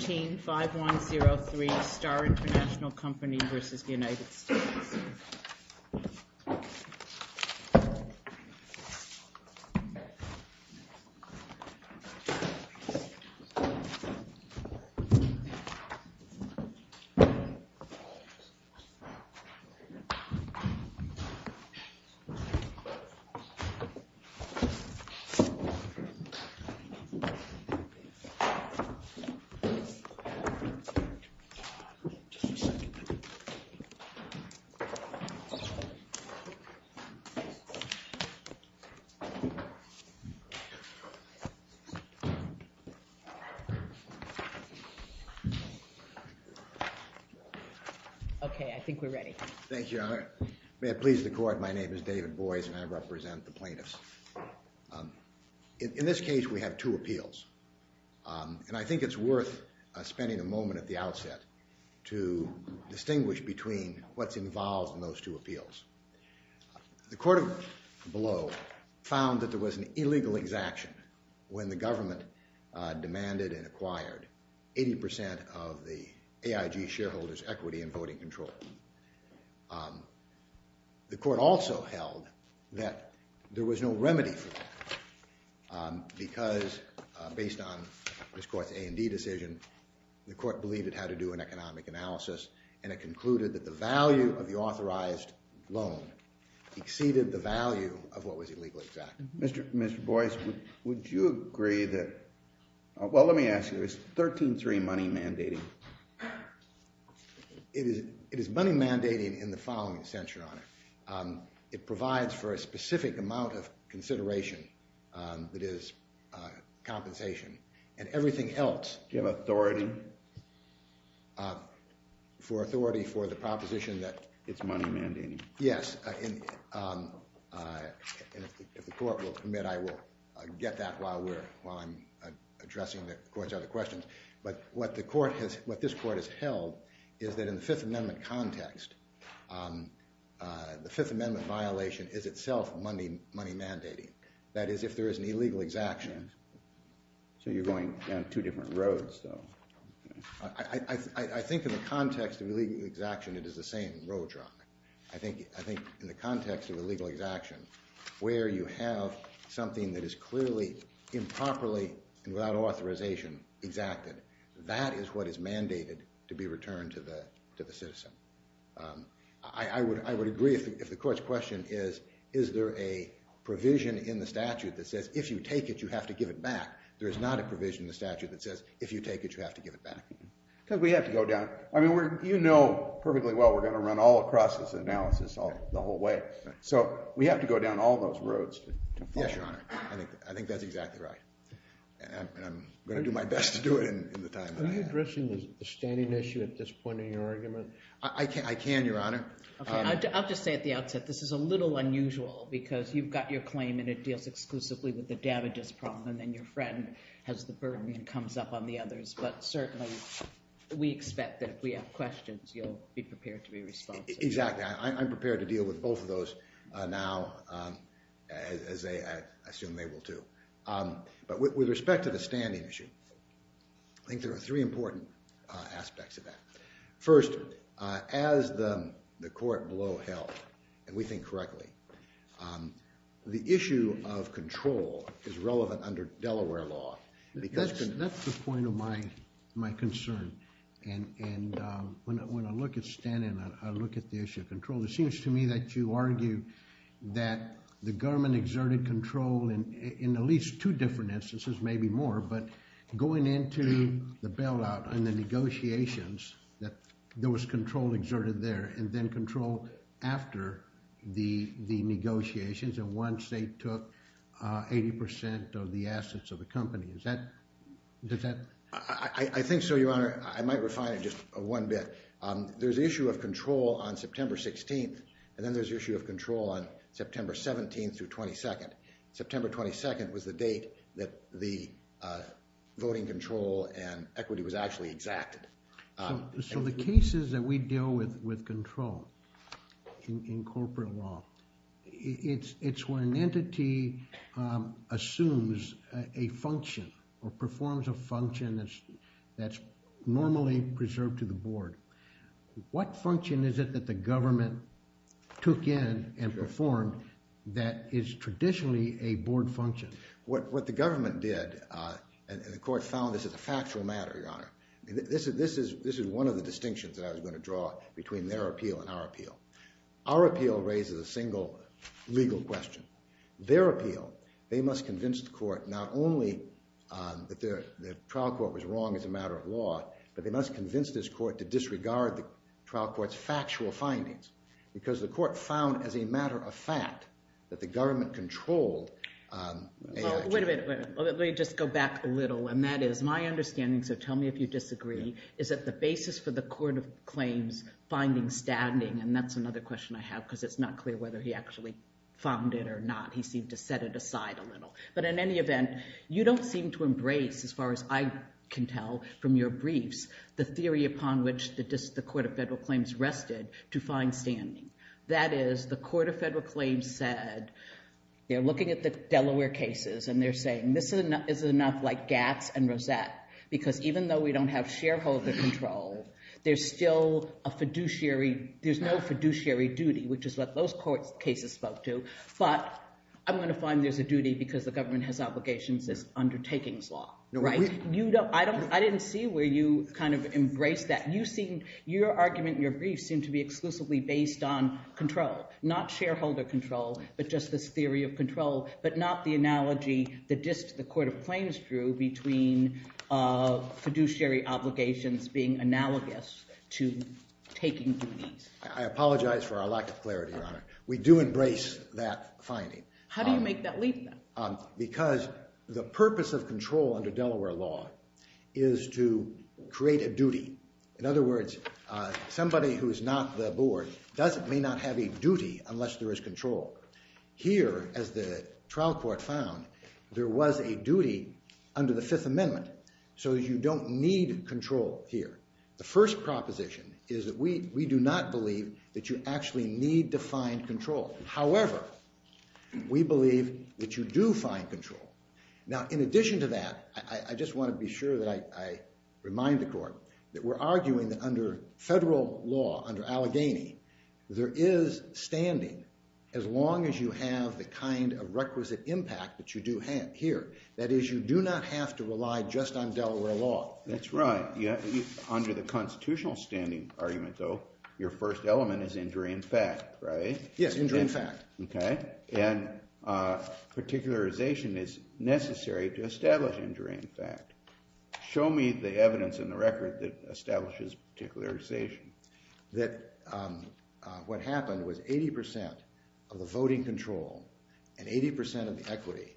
Team 5103, Starr International Company v. United States Okay, I think we're ready. Thank you, Your Honor. May it please the court, my name is David Boyce, and I represent the plaintiffs. In this case, we have two appeals. And I think it's worth spending a moment at the outset to distinguish between what's involved in those two appeals. The court below found that there was an illegal exaction when the government demanded and acquired 80% of the AIG shareholders' equity and voting control. The court also held that there was no remedy for that because, based on this court's A&D decision, the court believed it had to do an economic analysis, and it concluded that the value of the authorized loan exceeded the value of what was illegally exacted. Mr. Boyce, would you agree that, well, let me ask you, is 13-3 money mandating? It is money mandating in the following sense, Your Honor. It provides for a specific amount of consideration that is compensation, and everything else... Do you have authority? For authority for the proposition that... Get that while I'm addressing the court's other questions. But what this court has held is that, in the Fifth Amendment context, the Fifth Amendment violation is itself money mandating. That is, if there is an illegal exaction... So you're going down two different roads, though. I think in the context of illegal exaction, it is the same roadblock. I think in the context of improperly and without authorization exacted, that is what is mandated to be returned to the citizen. I would agree if the court's question is, is there a provision in the statute that says, if you take it, you have to give it back? There is not a provision in the statute that says, if you take it, you have to give it back. Because we have to go down... I mean, you know perfectly well we're going to run all across this analysis the whole way, so we have to go down all those roads. I think that's exactly right. I'm going to do my best to do it in the time that I have. Are you addressing the standing issue at this point in your argument? I can, Your Honor. I'll just say at the outset, this is a little unusual, because you've got your claim and it deals exclusively with the damages problem, and then your friend has the burden and comes up on the others. But certainly, we expect that if we have questions, you'll be as I assume they will too. But with respect to the standing issue, I think there are three important aspects of that. First, as the court blow held, and we think correctly, the issue of control is relevant under Delaware law. That's the point of my concern. And when I look at standing, I look at the issue of control. It seems to me that you argue that the government exerted control in at least two different instances, maybe more. But going into the bailout and the negotiations, that there was control exerted there, and then control after the negotiations, and once they took 80% of the assets of the company. Is that... I think so, just one bit. There's issue of control on September 16th, and then there's issue of control on September 17th through 22nd. September 22nd was the date that the voting control and equity was actually exacted. So the cases that we deal with with control in corporate law, it's where an entity assumes a function or performs a function that's normally preserved to the board. What function is it that the government took in and performed that is traditionally a board function? What the government did, and the court found this is a factual matter, Your Honor. This is one of the distinctions that I was going to draw between their appeal and our appeal. Our appeal, they must convince the court not only that the trial court was wrong as a matter of law, but they must convince this court to disregard the trial court's factual findings because the court found as a matter of fact that the government controlled... Wait a minute. Let me just go back a little, and that is my understanding, so tell me if you disagree, is that the basis for the court of claims finding standing, and that's another question I have because it's not clear whether he actually found it or not. He seemed to set it aside a little, but in any event, you don't seem to embrace, as far as I can tell from your briefs, the theory upon which the court of federal claims rested to find standing. That is, the court of federal claims said, they're looking at the Delaware cases, and they're saying this is enough like Gatz and Rosette because even though we don't have shareholder control, there's still a fiduciary... There's no fiduciary duty, which is what those court cases spoke to, but I'm going to find there's a duty because the government has obligations as undertakings law, right? I didn't see where you kind of embraced that. You seem... Your argument in your briefs seem to be exclusively based on control, not shareholder control, but just this theory of control, but not the analogy that just the court of claims drew between fiduciary obligations being analogous to taking duties. I apologize for our lack of clarity Your Honor. We do embrace that finding. How do you make that leap then? Because the purpose of control under Delaware law is to create a duty. In other words, somebody who is not the board may not have a duty unless there is control. Here, as the trial court found, there was a duty under the Fifth Amendment, so you don't need control here. The first proposition is that we do not believe that you actually need to find control. However, we believe that you do find control. Now, in addition to that, I just want to be sure that I remind the court that we're arguing that under federal law, under Allegheny, there is standing as long as you have the kind of requisite impact that you do have here. That is, you do not have to rely just on Delaware law. That's right. Yeah, under the Yes, injury in fact. Okay, and particularization is necessary to establish injury in fact. Show me the evidence in the record that establishes particularization. That what happened was 80% of the voting control and 80% of the equity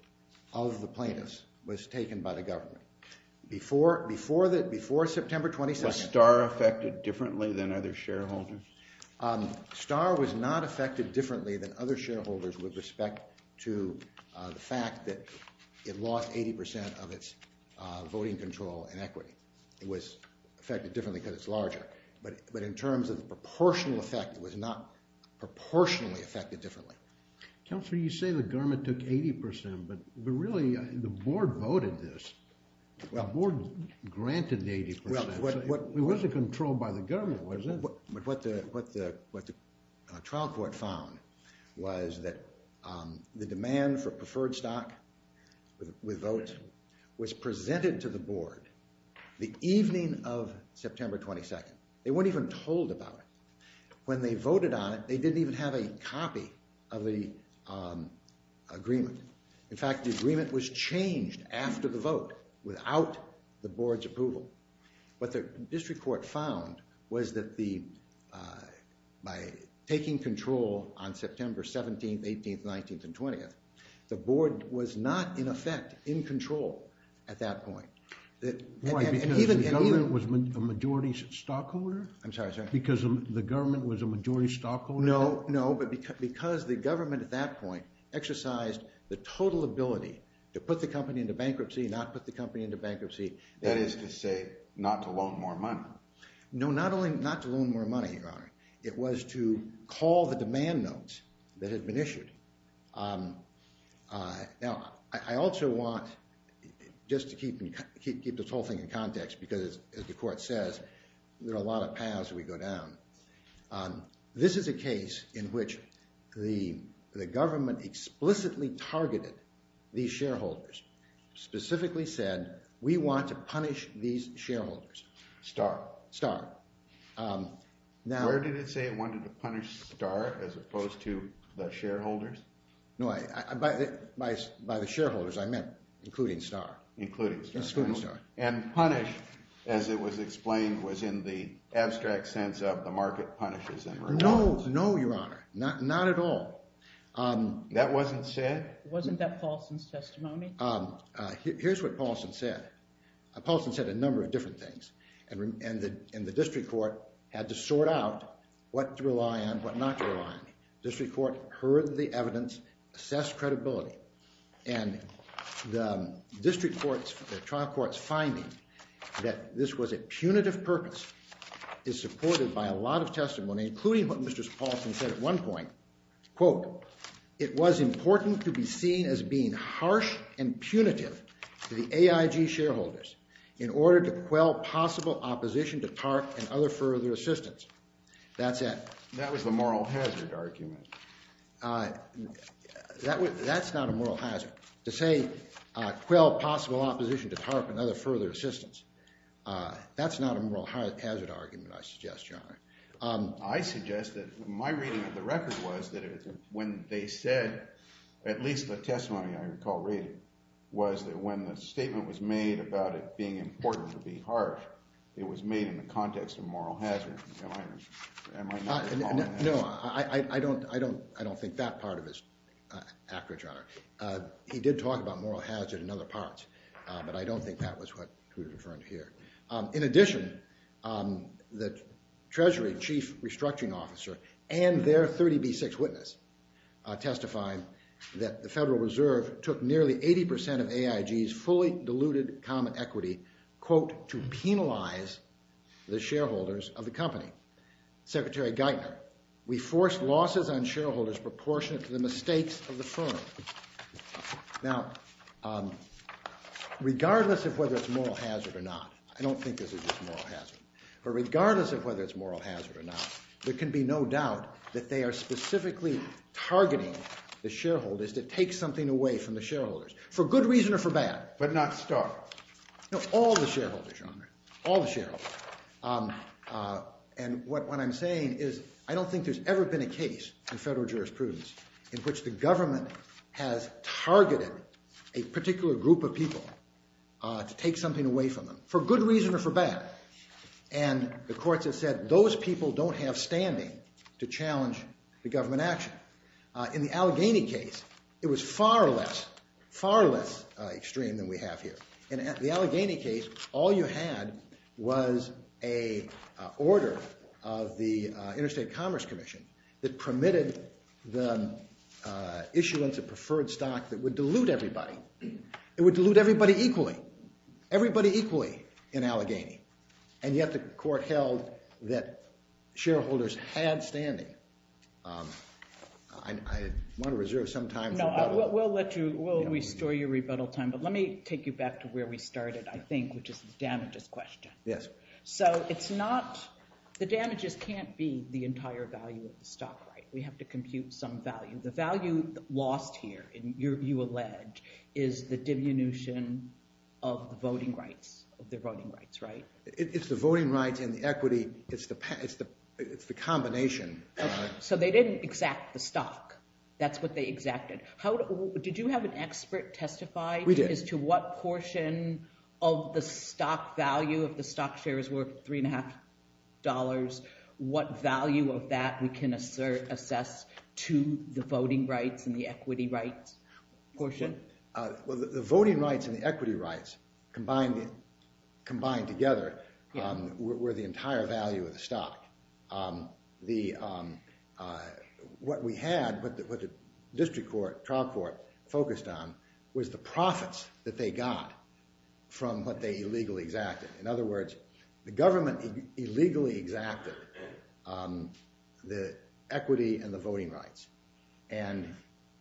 of the plaintiffs was taken by the government. Before September 22nd. Was Starr affected differently than other shareholders? Starr was not affected differently than other shareholders with respect to the fact that it lost 80% of its voting control and equity. It was affected differently because it's larger, but in terms of the proportional effect, it was not proportionally affected differently. Counselor, you say the government took 80%, but really the board voted this. The board granted 80%. It wasn't controlled by the government, was it? What the trial court found was that the demand for preferred stock with vote was presented to the board the evening of September 22nd. They weren't even told about it. When they In fact, the agreement was changed after the vote without the board's approval. What the district court found was that by taking control on September 17th, 18th, 19th, and 20th, the board was not in effect in control at that point. Right, because the government was a majority stockholder? I'm sorry, sorry. Because the government was a majority stockholder? No, no, but because the government at that point exercised the total ability to put the company into bankruptcy, not put the company into bankruptcy. That is to say, not to loan more money? No, not only not to loan more money, Your Honor. It was to call the demand notes that had been issued. Now, I also want, just to keep this whole thing in context, because as the court says, there are a lot of paths we go down. This is a case in which the government explicitly targeted these shareholders, specifically said, we want to punish these shareholders. Starr? Starr. Where did it say it wanted to punish Starr as opposed to the shareholders? No, by the shareholders, I Yes, including Starr. And punish, as it was explained, was in the abstract sense of the market punishes and relies. No, no, Your Honor, not at all. That wasn't said? Wasn't that Paulson's testimony? Here's what Paulson said. Paulson said a number of different things, and the district court had to sort out what to rely on, what not to rely on. District court heard the evidence, assessed credibility, and the district court's, the trial court's finding that this was a punitive purpose is supported by a lot of testimony, including what Mr. Paulson said at one point, quote, it was important to be seen as being harsh and punitive to the AIG shareholders in order to quell possible opposition to TARP and other further assistance. That's it. That was the moral hazard argument. That's not a moral hazard. To say quell possible opposition to TARP and other further assistance, that's not a moral hazard argument, I suggest, Your Honor. I suggest that my reading of the record was that when they said, at least the testimony I recall reading, was that when the statement was made about it being important to be harsh, it was made in the context of moral hazard. Am I not following that? No, I don't think that part of it is accurate, Your Honor. He did talk about moral hazard in other parts, but I don't think that was what we're referring to here. In addition, the Treasury Chief Restructuring Officer and their 30B6 witness testified that the Federal Reserve took nearly 80% of AIG's fully diluted common equity, quote, to penalize the shareholders of the company. Secretary Geithner, we forced losses on shareholders proportionate to the mistakes of the firm. Now, regardless of whether it's moral hazard or not, I don't think this is just moral hazard, but regardless of whether it's moral hazard or not, there can be no doubt that they are specifically targeting the shareholders to take something away from the shareholders, for good reason or for bad, but not TARP. No, all the shareholders, Your Honor, all the shareholders. And what I'm saying is I don't think there's ever been a case in federal jurisprudence in which the government has asked a particular group of people to take something away from them, for good reason or for bad, and the courts have said those people don't have standing to challenge the government action. In the Allegheny case, it was far less, far less extreme than we have here. In the Allegheny case, all you had was a order of the Interstate Commerce Commission that permitted the issuance of preferred stock that would dilute everybody. It would dilute everybody equally. Everybody equally in Allegheny. And yet the court held that shareholders had standing. I want to reserve some time for rebuttal. No, we'll let you, we'll restore your rebuttal time, but let me take you back to where we started, I think, which is the damages question. So it's not, the damages can't be the entire value of the stock, right? We have to compute some value. The value lost here, you allege, is the diminution of the voting rights, of their voting rights, right? It's the voting rights and the equity, it's the combination. So they didn't exact the stock. That's what they exacted. Did you have an expert testify as to what portion of the stock value of the stock share is worth $3.5? What value of that we can assess to the voting rights and the equity rights portion? Well, the voting rights and the equity rights combined together were the entire value of the stock. What we had, what the district court, trial court, focused on was the profits that they got from what they illegally exacted. In other words, the government illegally exacted the equity and the voting rights, and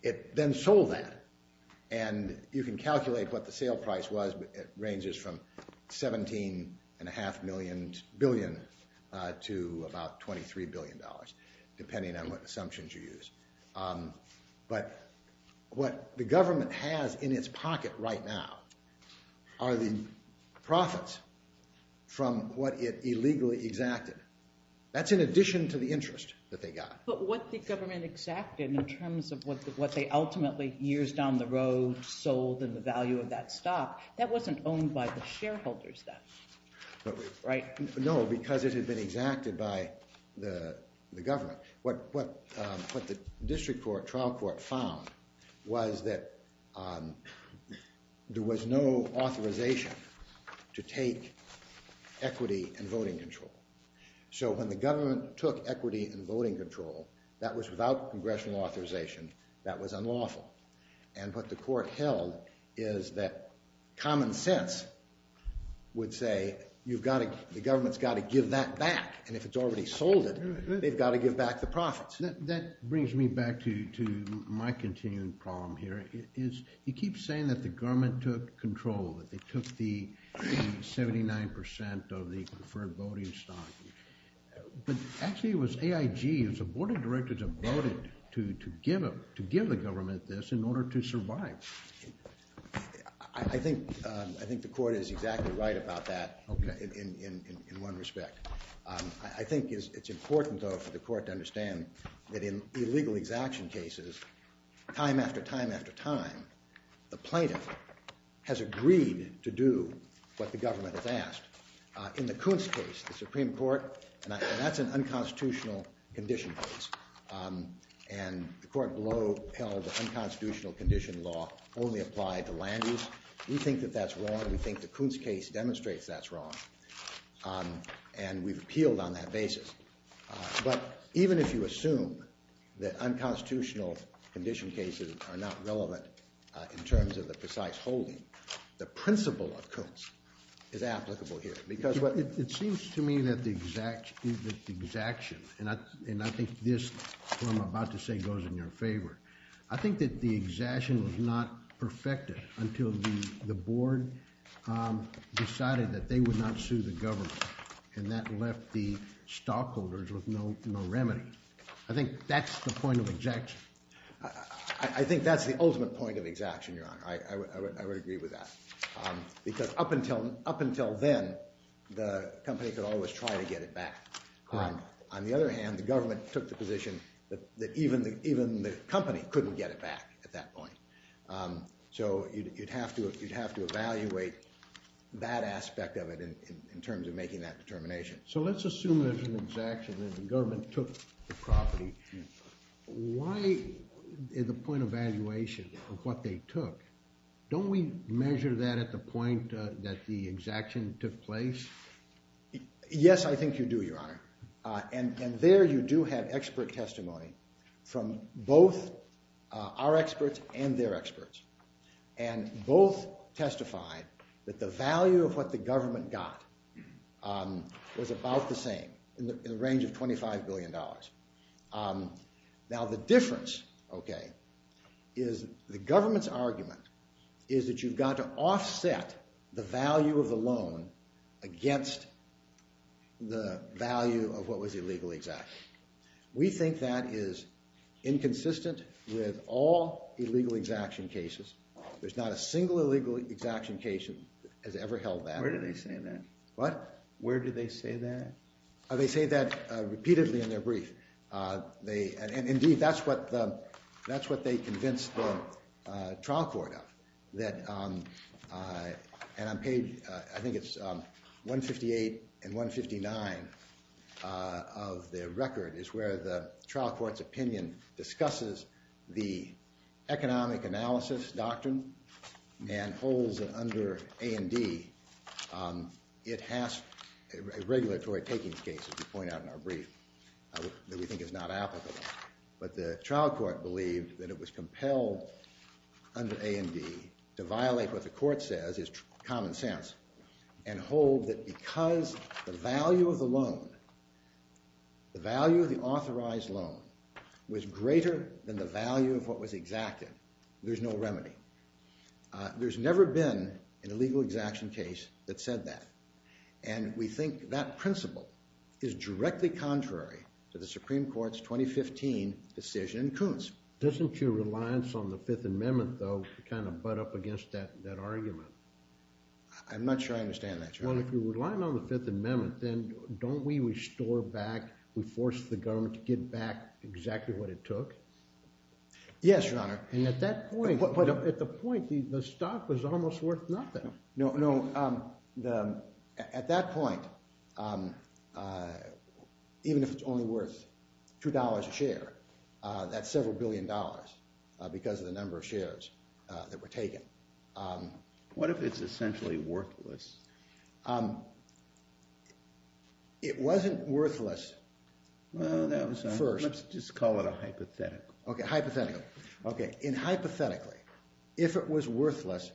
it then sold that. And you can calculate what the sale price was, but it ranges from $17.5 billion to about $23 billion, depending on what assumptions you use. But what the government has in its pocket right now are the profits from what it illegally exacted. That's in addition to the interest that they got. But what the government exacted in terms of what they ultimately, years down the road, sold and the value of that stock, that wasn't owned by the shareholders then, right? No, because it had been exacted by the government. What the district court, trial court, found was that there was no authorization to take equity and voting control. So when the government took equity and voting control, that was without congressional authorization. That was unlawful. And what the court held is that common sense would say, the government's got to give that back, and if it's already sold it, they've got to give back the profits. That brings me back to my continuing problem here. You keep saying that the government took control, that they took the 79% of the preferred voting stock. But actually it was AIG, it was the board of directors that voted to give the government this in order to survive. I think the court is exactly right about that in one respect. I think it's important though for the court to understand that in illegal exaction cases, time after time after time, the plaintiff has agreed to do what the government has asked. In the Kuntz case, the Supreme Court, and that's an unconstitutional condition case, and the court below held that unconstitutional condition law only applied to land use. We think that that's wrong. We think the Kuntz case demonstrates that's wrong. And we've appealed on that basis. But even if you assume that unconstitutional condition cases are not relevant in terms of the precise holding, the principle of Kuntz is applicable here. It seems to me that the exaction, and I think this, what I'm about to say, goes in your favor. I think that the exaction was not perfected until the board decided that they would not sue the government. And that left the stockholders with no remedy. I think that's the point of exaction. I think that's the ultimate point of exaction, Your Honor. I would agree with that. Because up until then, the company could always try to get it back. On the other hand, the government took the position that even the company couldn't get it back at that point. So you'd have to evaluate that aspect of it in terms of making that determination. So let's assume there's an exaction and the government took the property. Why, in the point of evaluation of what they took, don't we measure that at the point that the exaction took place? Yes, I think you do, Your Honor. And there you do have expert testimony from both our experts and their experts. And both testified that the value of what the government got was about the same, in the range of $25 billion. Now the difference, okay, is the government's argument is that you've got to offset the value of the loan against the value of what was illegally exacted. We think that is inconsistent with all illegal exaction cases. There's not a single illegal exaction case that has ever held that. Where do they say that? What? In our brief. And indeed, that's what they convinced the trial court of. And on page, I think it's 158 and 159 of their record is where the trial court's opinion discusses the economic analysis doctrine and holds it under A&D. It has a regulatory taking case, as we point out in our brief, that we think is not applicable. But the trial court believed that it was compelled under A&D to violate what the court says is common sense and hold that because the value of the loan, the value of the authorized loan, was greater than the value of what was exacted, there's no remedy. There's never been an illegal exaction case that said that. And we think that principle is directly contrary to the Supreme Court's 2015 decision in Coons. Doesn't your reliance on the Fifth Amendment, though, kind of butt up against that argument? I'm not sure I understand that, Your Honor. Well, if you're reliant on the Fifth Amendment, then don't we restore back, we force the government to get back exactly what it took? Yes, Your Honor. But at the point, the stock was almost worth nothing. No, at that point, even if it's only worth $2 a share, that's several billion dollars because of the number of shares that were taken. What if it's essentially worthless? It wasn't worthless first. Let's just call it a hypothetical. Hypothetically, if it was worthless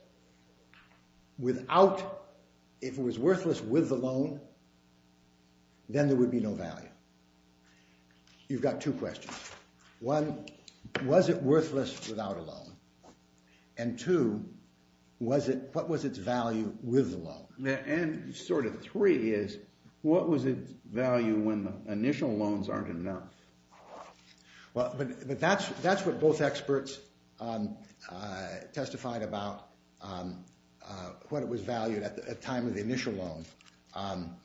with the loan, then there would be no value. You've got two questions. One, was it worthless without a loan? And two, what was its value with the loan? And sort of three is, what was its value when the initial loans aren't enough? But that's what both experts testified about, what it was valued at the time of the initial loans.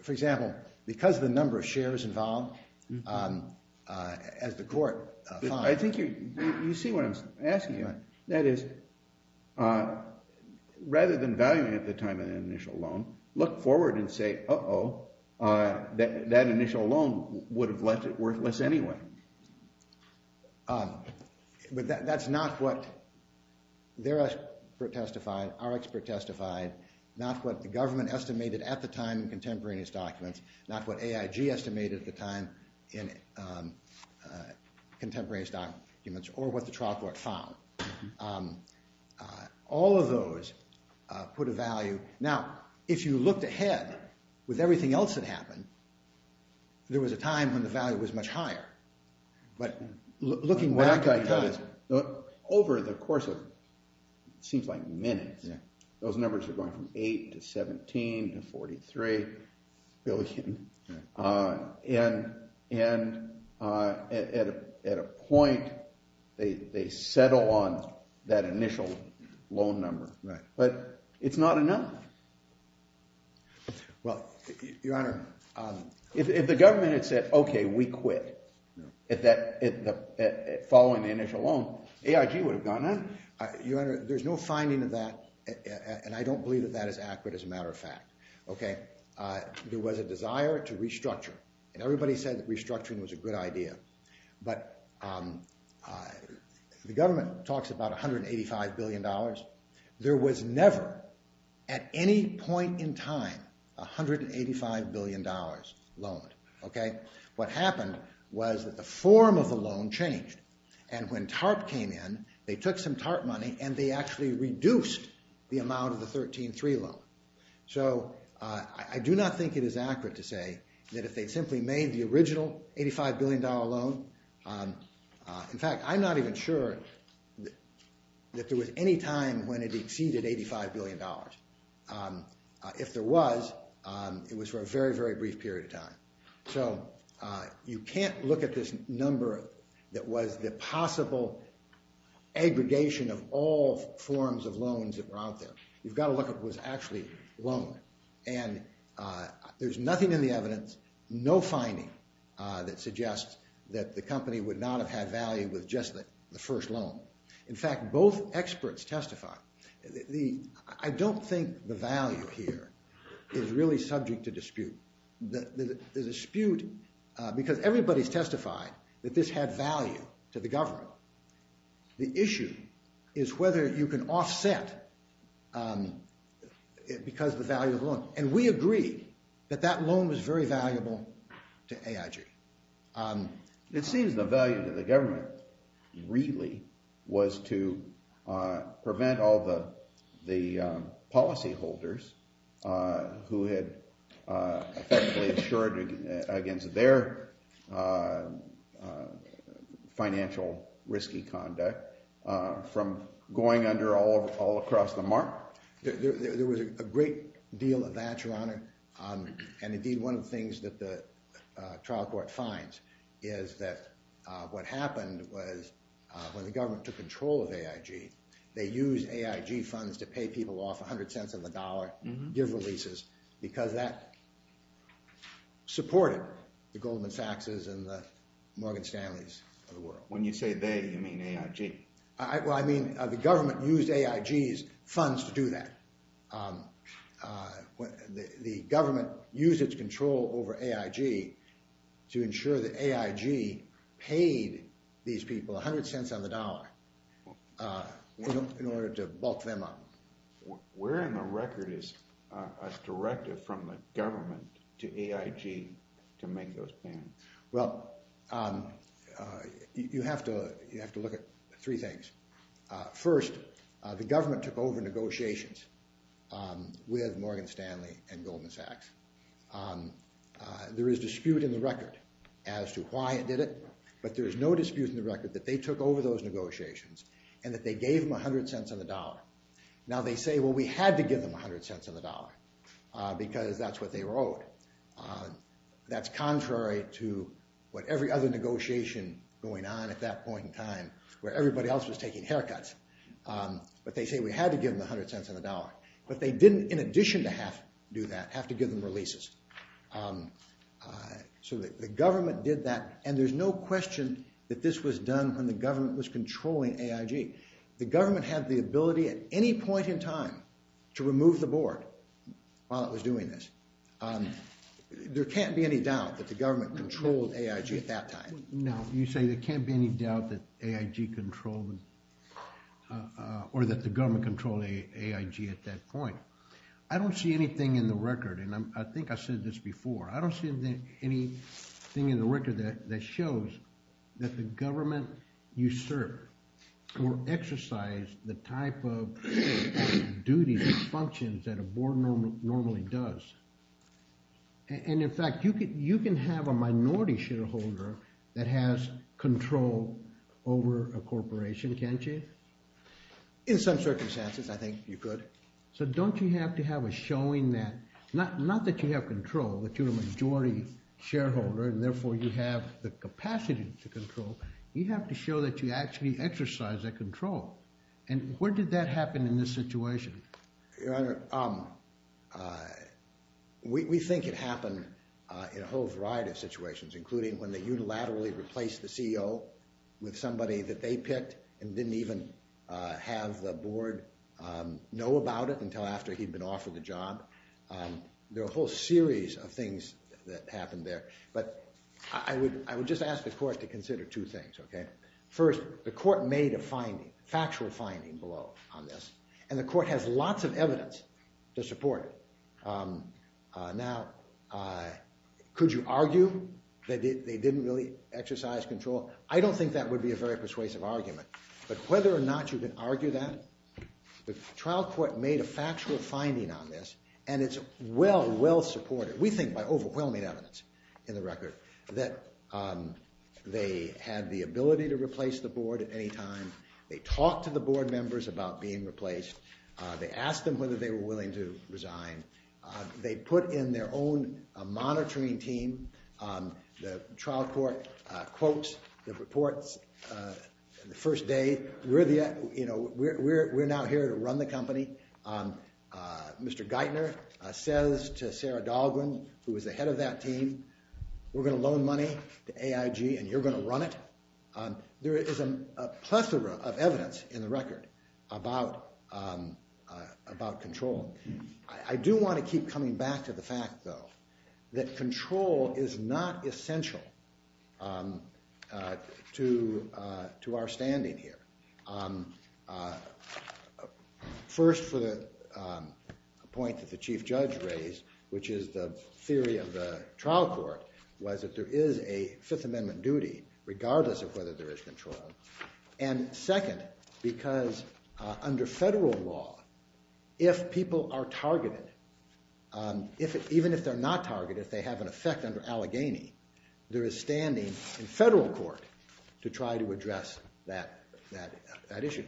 For example, because the number of shares involved, as the court found... I think you see what I'm asking you. That is, rather than valuing it at the time of the initial loan, look forward and say, uh-oh, that initial loan would have left it worthless anyway. But that's not what their expert testified, our expert testified, not what the government estimated at the time in contemporaneous documents, not what AIG estimated at the time in contemporaneous documents, or what the trial court found. All of those put a value... Now, if you looked ahead, with everything else that happened, there was a time when the value was much higher. What that guy does, over the course of what seems like minutes, those numbers are going from 8 to 17 to 43 billion, and at a point, they settle on that initial loan number. But it's not enough. Well, Your Honor... If the government had said, okay, we quit, following the initial loan, AIG would have gone on. Your Honor, there's no finding of that, and I don't believe that that is accurate, as a matter of fact. There was a desire to restructure, and everybody said that restructuring was a good idea, but the government talks about 185 billion dollars. There was never, at any point in time, 185 billion dollars loaned. What happened was that the form of the loan changed, and when TARP came in, they took some TARP money, and they actually reduced the amount of the 13-3 loan. So, I do not think it is accurate to say that if they simply made the original 85 billion dollar loan... In fact, I'm not even sure that there was any time when it exceeded 85 billion dollars. If there was, it was for a very, very brief period of time. So, you can't look at this number that was the possible aggregation of all forms of loans that were out there. You've got to look at what was actually loaned, and there's nothing in the evidence, no finding, that suggests that the company would not have had value with just the first loan. In fact, both experts testify. I don't think the value here is really subject to dispute. The dispute, because everybody's testified that this had value to the government. The issue is whether you can offset because of the value of the loan. And we agree that that loan was very valuable to AIG. It seems the value to the government really was to prevent all the policyholders who had effectively insured against their financial risky conduct from going under all across the mark. There was a great deal of that, Your Honor, and indeed one of the things that the trial court finds is that what happened was when the government took control of AIG, they used AIG funds to pay people off 100 cents on the dollar, give releases, because that supported the Goldman Sachs' and the Morgan Stanley's of the world. When you say they, you mean AIG? Well, I mean the government used AIG's funds to do that. The government used its control over AIG in order to bulk them up. Where in the record is a directive from the government to AIG to make those plans? Well, you have to look at three things. First, the government took over negotiations with Morgan Stanley and Goldman Sachs. There is dispute in the record as to why it did it, but there is no dispute in the record that they took over those negotiations and that they gave them 100 cents on the dollar. Now they say, well, we had to give them 100 cents on the dollar, because that's what they wrote. That's contrary to what every other negotiation going on at that point in time where everybody else was taking haircuts. But they say we had to give them 100 cents on the dollar. But they didn't, in addition to have to do that, have to give them releases. So the government did that and there's no question that this was done when the government was controlling AIG. The government had the ability at any point in time to remove the board while it was doing this. There can't be any doubt that the government controlled AIG at that time. No, you say there can't be any doubt that AIG controlled or that the government controlled AIG at that point. I don't see anything in the record, and I think I said this before, I don't see anything in the record that shows that the government usurped or exercised the type of duties and functions that a board normally does. And in fact, you can have a minority shareholder that has control over a corporation, can't you? In some circumstances, I think you could. So don't you have to have a showing that, not that you have control, that you're a majority shareholder and therefore you have the capacity to control, you have to show that you actually exercise that control. And where did that happen in this situation? Your Honor, we think it happened in a whole variety of situations, including when they unilaterally replaced the CEO with somebody that they picked and didn't even have the board know about it until after he'd been offered the job. There are a whole series of things that happened there, but I would just ask the Court to consider two things. First, the Court made a factual finding below on this, and the Court has lots of evidence to support it. Now, could you argue that they didn't really exercise control? I don't think that would be a very persuasive argument, but whether or not you can argue that, the trial court made a factual finding on this, and it's well, well supported. We think, by overwhelming evidence in the record, that they had the ability to replace the board at any time, they talked to the board members about being replaced, they asked them whether they were willing to resign, they put in their own monitoring team, the trial court quotes the reports the first day, you know, we're now here to run the company, Mr. Geithner says to Sarah Dahlgren, who was the head of that team, we're going to loan money to AIG and you're going to run it. There is a plethora of evidence in the record about control. I do want to keep coming back to the fact, though, that control is not essential to our standing here. First, for the point that the Chief Judge raised, which is the theory of the trial court, was that there is a Fifth Amendment duty regardless of whether there is control, and second, because under federal law, if people are targeted, even if they're not targeted, if they have an effect under Allegheny, there is standing in federal court to try to address that issue.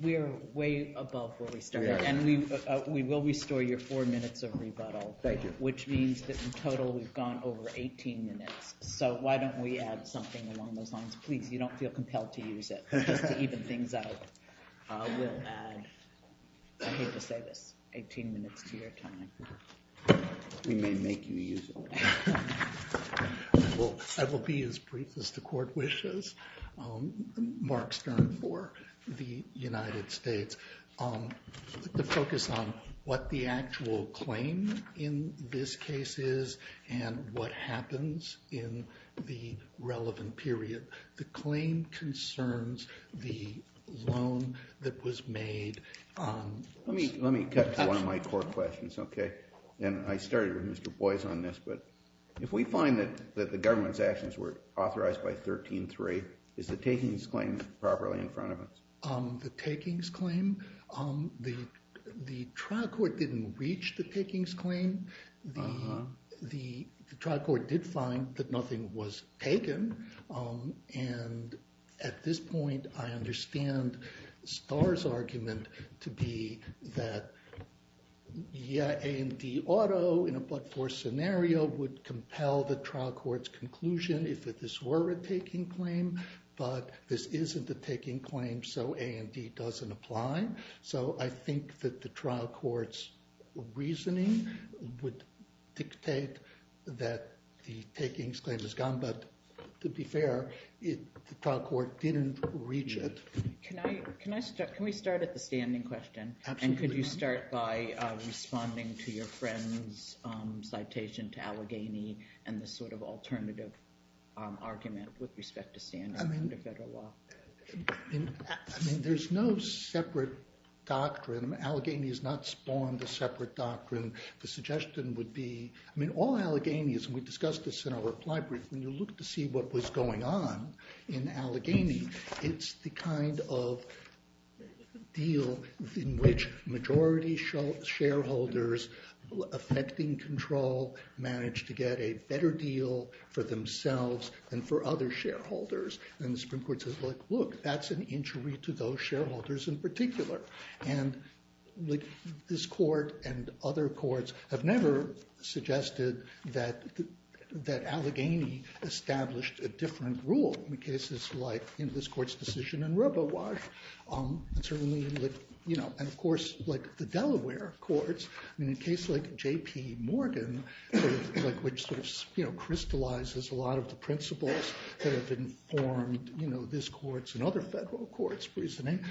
We are way above where we started, and we will restore your four minutes of rebuttal, which means that in total we've gone over 18 minutes, so why don't we add something along those lines? Please, you don't feel compelled to use it, just to even things out. I hate to say this, 18 minutes to your time. We may make you use it. I will be as brief as the court wishes. Mark Stern for the United States. The focus on what the actual claim in this case is, and what happens in the relevant period. The claim concerns the loan that was made. Let me cut to one of my core questions. I started with Mr. Boyce on this, but if we find that the government's actions were authorized by 13-3, is the takings claim properly in front of us? The takings claim? The trial court didn't reach the takings claim. The trial court did find that nothing was taken, and at this point I understand Starr's argument to be that A&D Auto, in a but-for scenario, would compel the trial court's conclusion if this were a taking claim, but this isn't a taking claim, so A&D doesn't apply. So I think that the trial court's reasoning would dictate that the takings claim is gone, but to be fair, the trial court didn't reach it. Can we start at the standing question? Absolutely. And could you start by responding to your friend's citation to Allegheny and this sort of alternative argument with respect to standing under federal law? There's no separate doctrine. Allegheny has not spawned a separate doctrine. The suggestion would be all Alleghenies, and we discussed this in our reply brief, when you look to see what was going on in Allegheny, it's the kind of deal in which majority shareholders affecting control managed to get a better deal for themselves than for other shareholders. And the Supreme Court says, look, that's an injury to those shareholders in particular. And this Court and other courts have never suggested that there's a different rule in cases like this Court's decision in RoboWash. And of course, like the Delaware courts, in a case like J.P. Morgan, which crystallizes a lot of the principles that have informed this Court's and other federal courts' reasoning,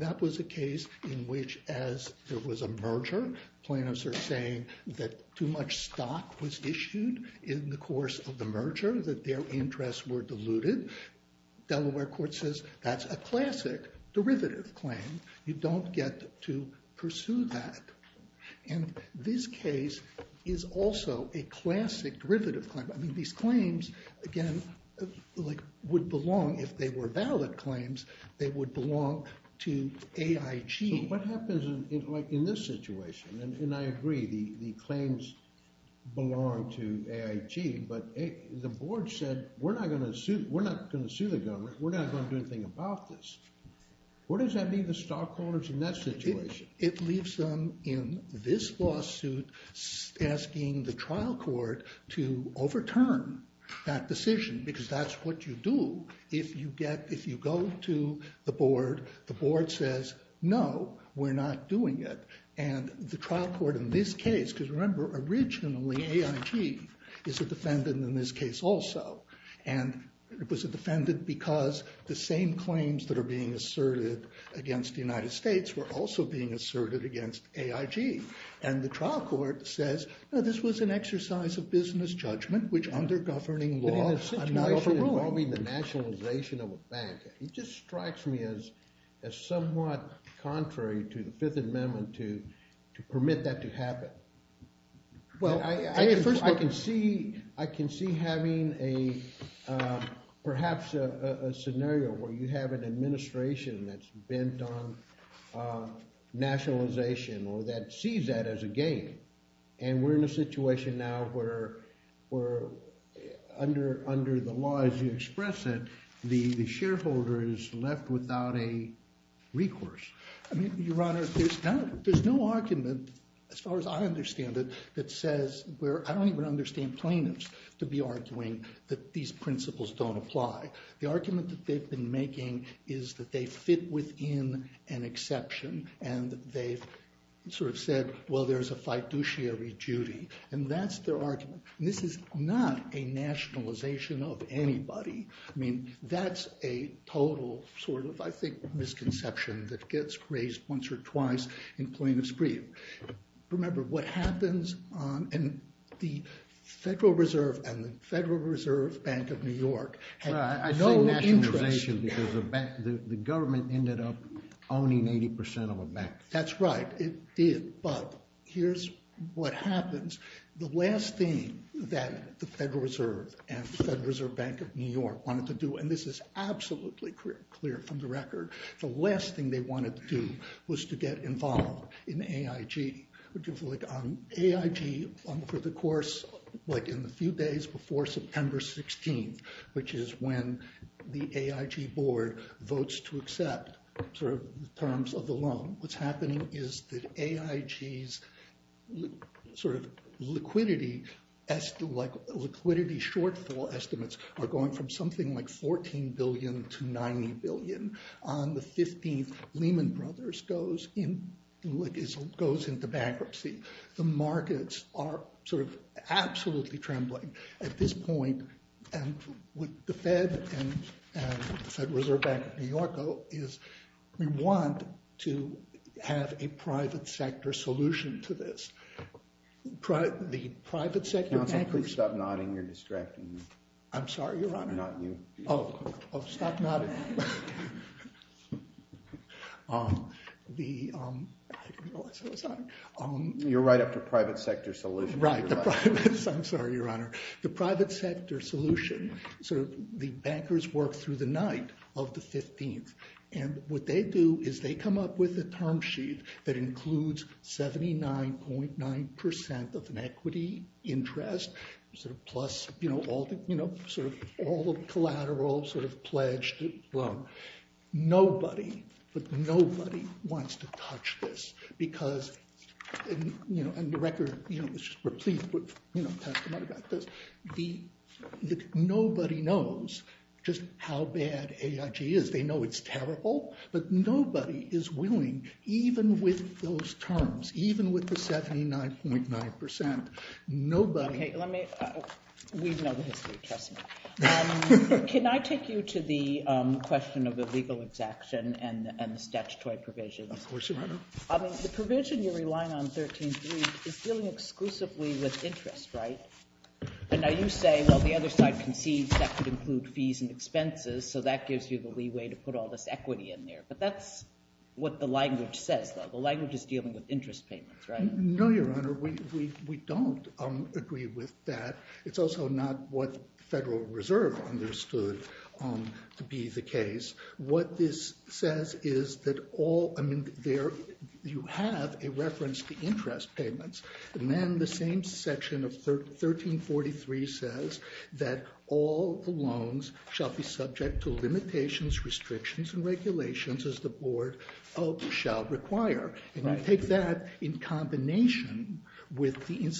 that was a case in which, as there was a merger, plaintiffs are saying that too much stock was issued in the course of the merger, that their interests were diluted. Delaware Court says that's a classic derivative claim. You don't get to pursue that. And this case is also a classic derivative claim. I mean, these claims, again, would belong, if they were valid claims, they would belong to AIG. So what happens in this situation? And I agree, the claims belong to AIG, but the board said we're not going to sue the government, we're not going to do anything about this. What does that mean to stockholders in that situation? It leaves them in this lawsuit asking the trial court to overturn that decision, because that's what you do if you go to the board, the board says, no, we're not doing it. And the trial court in this case, because remember, originally AIG is a defendant in this case also, and it was a defendant because the same claims that are being asserted against the United States were also being asserted against AIG. And the trial court says, no, this was an exercise of business judgment, which under governing law, I'm not overruling. But in a situation involving the nationalization of a bank, it just strikes me as somewhat contrary to the Fifth Amendment to permit that to happen. I can see having perhaps a scenario where you have an administration that's bent on nationalization, or that sees that as a gank. And we're in a situation now where under the law as you express it, the shareholder is left without a recourse. Your Honor, there's no argument, as far as I understand it, that says, I don't even understand plaintiffs to be arguing that these principles don't apply. The argument that they've been making is that they fit within an exception, and they've sort of said, well, there's a fiduciary duty. And that's their argument. And this is not a nationalization of anybody. I mean, that's a total sort of I think misconception that gets raised once or twice in plaintiffs' brief. Remember, what happens, and the Federal Reserve and the Federal Reserve Bank of New York had no interest. I say nationalization because the government ended up owning 80% of a bank. That's right, it did. But here's what happens. The last thing that the Federal Reserve and the Federal Reserve Bank of New York wanted to do, and this is the last thing they wanted to do, was to get involved in AIG. AIG, for the course in the few days before September 16th, which is when the AIG board votes to accept terms of the loan, what's happening is that AIG's sort of liquidity shortfall estimates are going from something like $14 billion to $90 billion. On the 15th, Lehman Brothers goes into bankruptcy. The markets are sort of absolutely trembling at this point. And what the Fed and the Federal Reserve Bank of New York is, we want to have a private sector solution to this. The private sector bankers—Counsel, please stop nodding. You're distracting me. I'm sorry, stop nodding. I didn't realize I was nodding. You're right after private sector solution. Right, I'm sorry, Your Honor. The private sector solution, the bankers work through the night of the 15th, and what they do is they come up with a term sheet that includes 79.9% of an equity interest, plus all the collateral, sort of pledged loan. Nobody wants to touch this because and the record is just replete with nobody knows just how bad AIG is. They know it's terrible, but nobody is willing, even with those terms, even with the 79.9%. Nobody— Can I take you to the question of the legal exaction and the statutory provisions? Of course, Your Honor. The provision you're relying on, 13.3, is dealing exclusively with interest, right? And now you say, well, the other side concedes that could include fees and expenses, so that gives you the leeway to put all this equity in there. But that's what the language says, though. The language is dealing with interest payments, right? No, Your Honor, we don't agree with that. It's also not what the Federal Reserve understood to be the case. What this says is that all you have a reference to interest payments and then the same section of 13.43 says that all the loans shall be subject to limitations, restrictions, and regulations as the Board shall require. And I take that in combination with the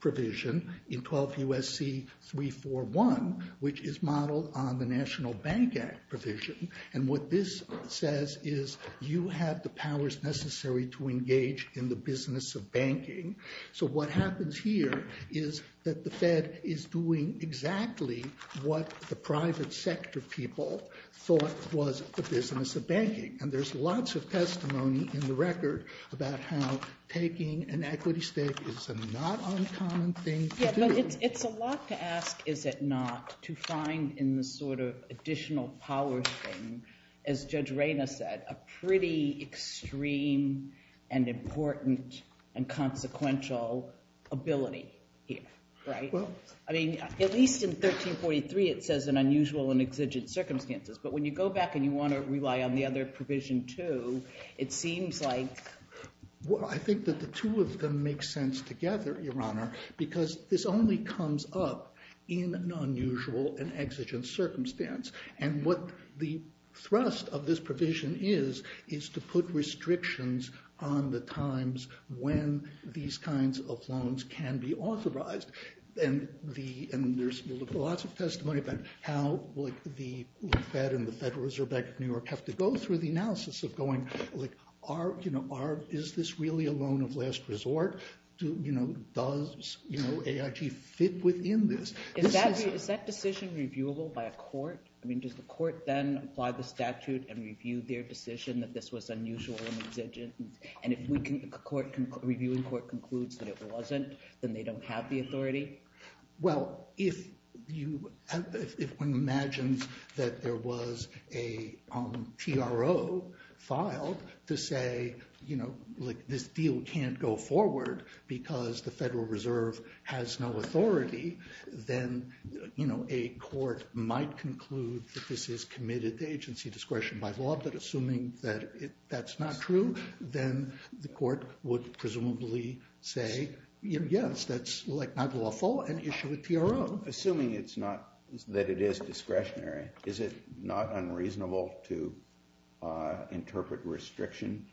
provision in 12 U.S.C. 341, which is modeled on the National Bank Act provision. And what this says is you have the powers necessary to engage in the business of banking. So what happens here is that the Fed is doing exactly what the private sector people thought was the business of banking. And there's lots of testimony in the record about how taking an equity stake is a not uncommon thing to do. Yeah, but it's a lot to ask, is it not, to find in this sort of additional powers thing as Judge Reyna said, a pretty extreme and important and consequential ability here, right? I mean, at least in 13.43 it says an unusual and exigent circumstances. But when you go back and you want to rely on the other provision too, it seems like I think that the two of them make sense together, Your Honor, because this only comes up in an unusual and exigent circumstance. And what the thrust of this provision is, is to put restrictions on the times when these kinds of loans can be authorized. And there's lots of testimony about how the Fed and the Federal Reserve Bank of New York have to go through the analysis of going, is this really a loan of last resort? Does AIG fit within this? Is that decision reviewable by a court? I mean, does the court then apply the statute and review their decision that this was unusual and exigent? And if the reviewing court concludes that it wasn't, then they don't have the authority? Well, if one imagines that there was a decision filed to say this deal can't go forward because the Federal Reserve has no authority, then a court might conclude that this is committed to agency discretion by law, but assuming that that's not true, then the court would presumably say yes, that's not lawful, and issue it to your own. Assuming that it is discretionary, is it not unreasonable to interpret restriction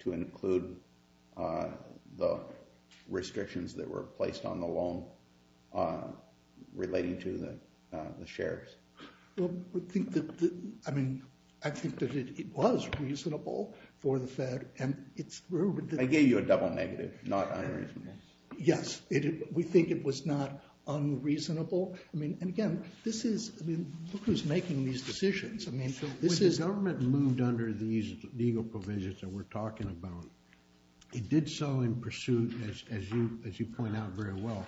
to include the restrictions that were placed on the loan relating to the shares? Well, I think that it was reasonable for the Fed, and it's... I gave you a double negative, not unreasonable. Yes, we think it was not unreasonable. And again, this is... When the government moved under these legal provisions that we're talking about, it did so in pursuit, as you point out very well,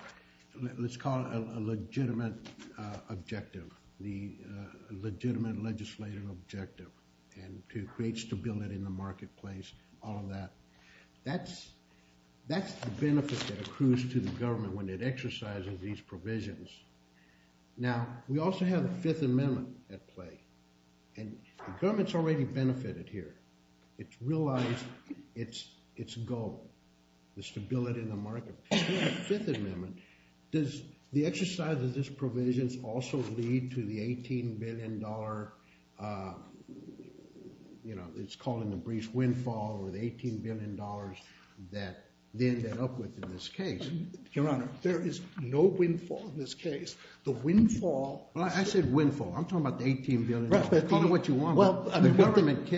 let's call it a legitimate objective, the legitimate legislative objective, and to create stability in the marketplace, all of that. That's the benefit that accrues to the government when it exercises these provisions. Now, we also have the government's already benefited here. It's realized its goal, the stability in the market. In the Fifth Amendment, does the exercise of these provisions also lead to the $18 billion it's called in the brief, windfall, or the $18 billion that they end up with in this case? Your Honor, there is no windfall in this case. The windfall... I said call it what you want. The government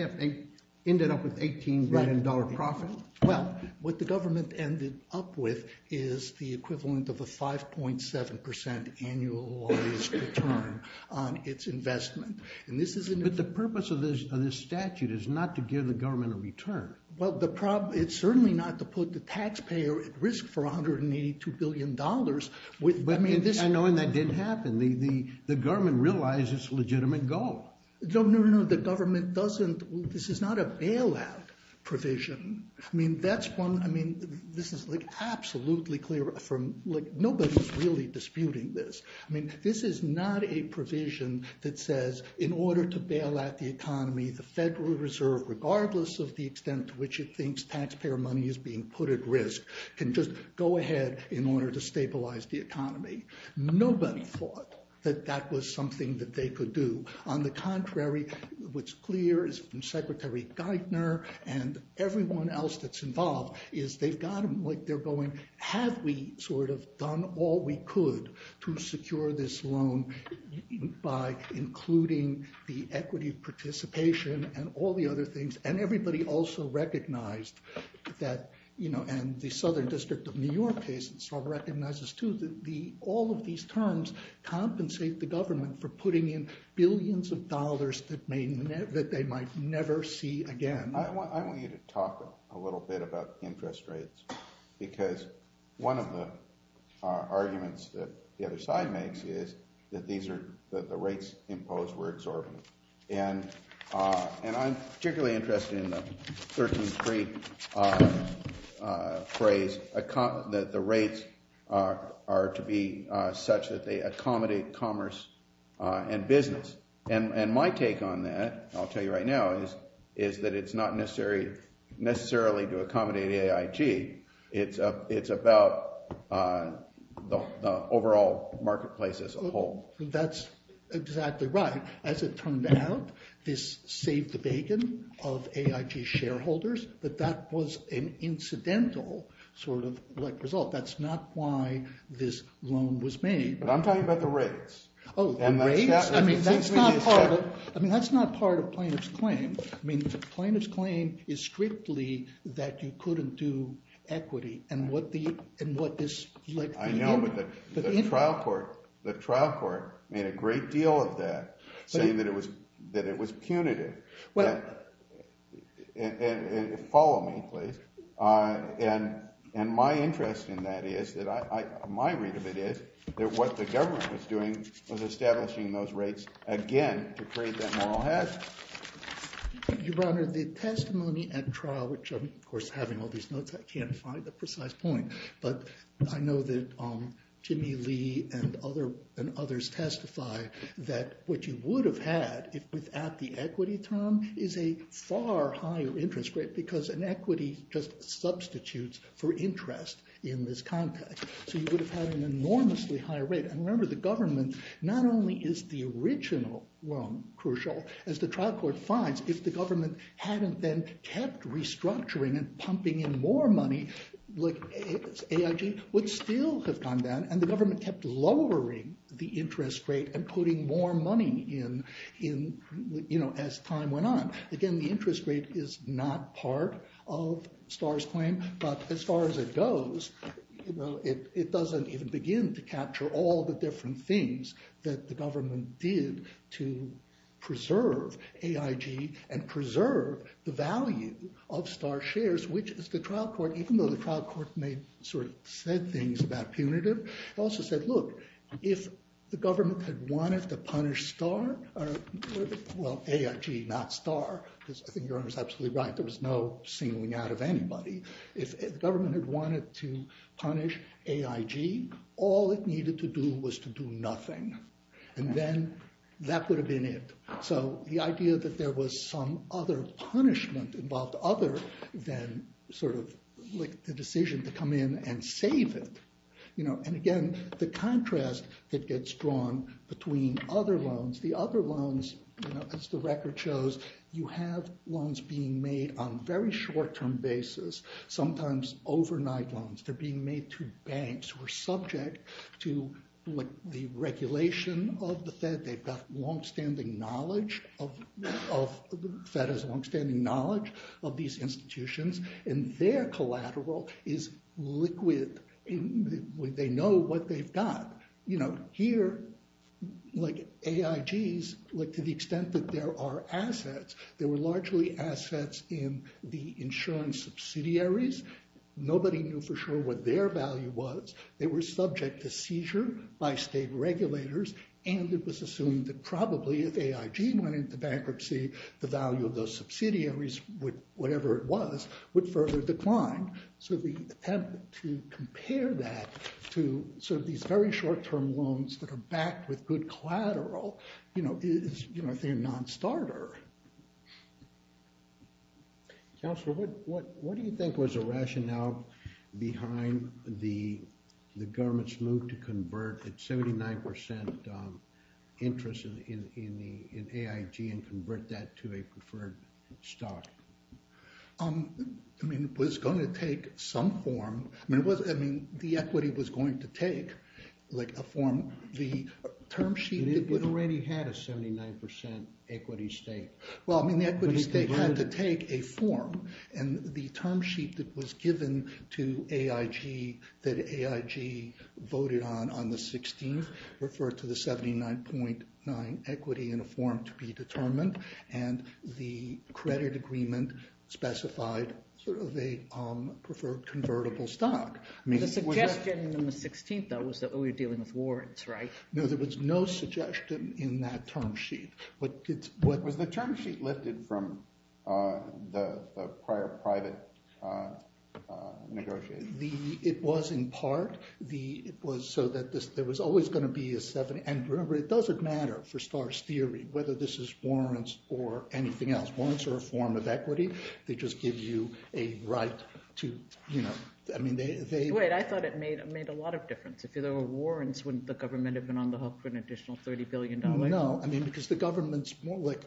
ended up with $18 billion profit. Well, what the government ended up with is the equivalent of a 5.7% annualized return on its investment. But the purpose of this statute is not to give the government a return. Well, it's certainly not to put the taxpayer at risk for $182 billion. But knowing that didn't happen, the government realized its legitimate goal. No, no, no, the government doesn't... this is not a bailout provision. I mean, that's one... this is absolutely clear from... nobody's really disputing this. This is not a provision that says in order to bail out the economy, the Federal Reserve, regardless of the extent to which it thinks taxpayer money is being put at risk, can just go ahead in order to stabilize the economy. Nobody thought that that was something that they could do. On the contrary, what's clear is from Secretary Geithner and everyone else that's involved is they've got them like they're going, have we sort of done all we could to secure this loan by including the equity participation and all the other things. And everybody also recognized that you know, and the Southern District of New York case sort of recognizes too that all of these terms compensate the government for putting in billions of dollars that they might never see again. I want you to talk a little bit about interest rates because one of the arguments that the other side makes is that the rates imposed were exorbitant. And I'm particularly interested in the 13th Street phrase that the rates are to be such that they accommodate commerce and business. And my take on that, I'll tell you right now, is that it's not necessarily to accommodate AIG. It's about the overall marketplace as a whole. That's exactly right. As it turned out, this saved the bacon of AIG shareholders, but that was an incidental sort of result. That's not why this loan was made. But I'm talking about the rates. Oh, the rates? I mean, that's not part of plaintiff's claim. I mean, the plaintiff's claim is strictly that you couldn't do equity and what this... I know, but the trial court made a great deal of that saying that it was punitive. Follow me, please. And my interest in that is that my read of it is that what the government was doing was establishing those rates again to create that moral hazard. Your Honor, the testimony at trial, which I'm of course having all these notes, I can't find the precise point, but I know that Jimmy Lee and others testify that what you would have had without the equity term is a far higher interest rate because an equity just substitutes for interest in this context. So you would have had an enormously higher rate. And remember, the government not only is the original, well, crucial, as the trial court finds, if the government hadn't then kept restructuring and pumping in more money, AIG would still have gone down and the government kept lowering the interest rate and putting more money in as time went on. Again, the interest rate is not part of Starr's claim, but as far as it goes, it doesn't even begin to capture all the different things that the government did to preserve AIG and preserve the value of Starr's shares, which is the trial court, even though the trial court may sort of said things about punitive, it also said, look, if the government had wanted to punish Starr, well, AIG, not Starr, because I think your Honor is absolutely right, there was no singling out of anybody. If the government had wanted to punish AIG, all it needed to do was to do nothing. And then that would have been it. So the idea that there was some other punishment involved other than sort of the decision to come in and save it. And again, the contrast that gets drawn between other loans, the other loans, as the record shows, you have loans being made on a very short-term basis, sometimes overnight loans. They're being made through banks who are subject to the regulation of the Fed. They've got long-standing knowledge of, the Fed has long-standing knowledge of these institutions, and their collateral is liquid. They know what they've got. Here, like AIG's, to the extent that there are assets, there were largely assets in the insurance subsidiaries. Nobody knew for sure what their value was. They were subject to seizure by state regulators, and it was assumed that probably if AIG went into bankruptcy, the value of those subsidiaries, whatever it was, would further decline. So the attempt to compare that to sort of these very short-term loans that are backed with good collateral is a non-starter. Councillor, what do you think was the rationale behind the government's move to convert its 79% interest in AIG and convert that to a preferred stock? I mean, it was going to take some form. I mean, the equity was going to take a form. The term sheet... It already had a 79% equity stake. Well, I mean, the equity stake had to take a form, and the term sheet that was given to AIG that AIG voted on on the 16th referred to the 79.9 equity in a form to be determined, and the credit agreement specified sort of a preferred convertible stock. The suggestion in the 16th, though, was that, oh, you're dealing with warrants, right? No, there was no suggestion in that term sheet. Was the term sheet lifted from the prior private negotiations? It was, in part. It was so that there was always going to be a... And remember, it doesn't matter for Starr's theory whether this is warrants or anything else. Warrants are a form of equity. They just give you a right to... I mean, they... Wait, I thought it made a lot of difference. If there were warrants, wouldn't the government have been on the hook for an additional $30 billion? No, I mean, because the government's more like...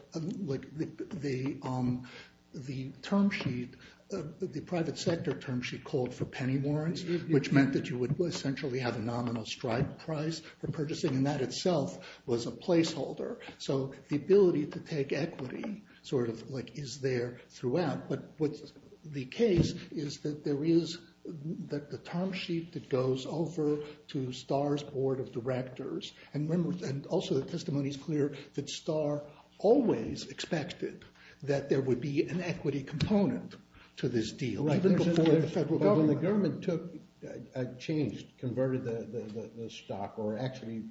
The term sheet, the private sector term sheet, called for penny warrants, which meant that you would essentially have a nominal strike price for purchasing, and that itself was a placeholder. So the ability to take equity sort of is there throughout. But what's the case is that there is... That the term sheet that goes over to Starr's board of directors... And also the testimony's clear that Starr always expected that there would be an equity component to this deal. But when the government took... Changed, converted the stock, or actually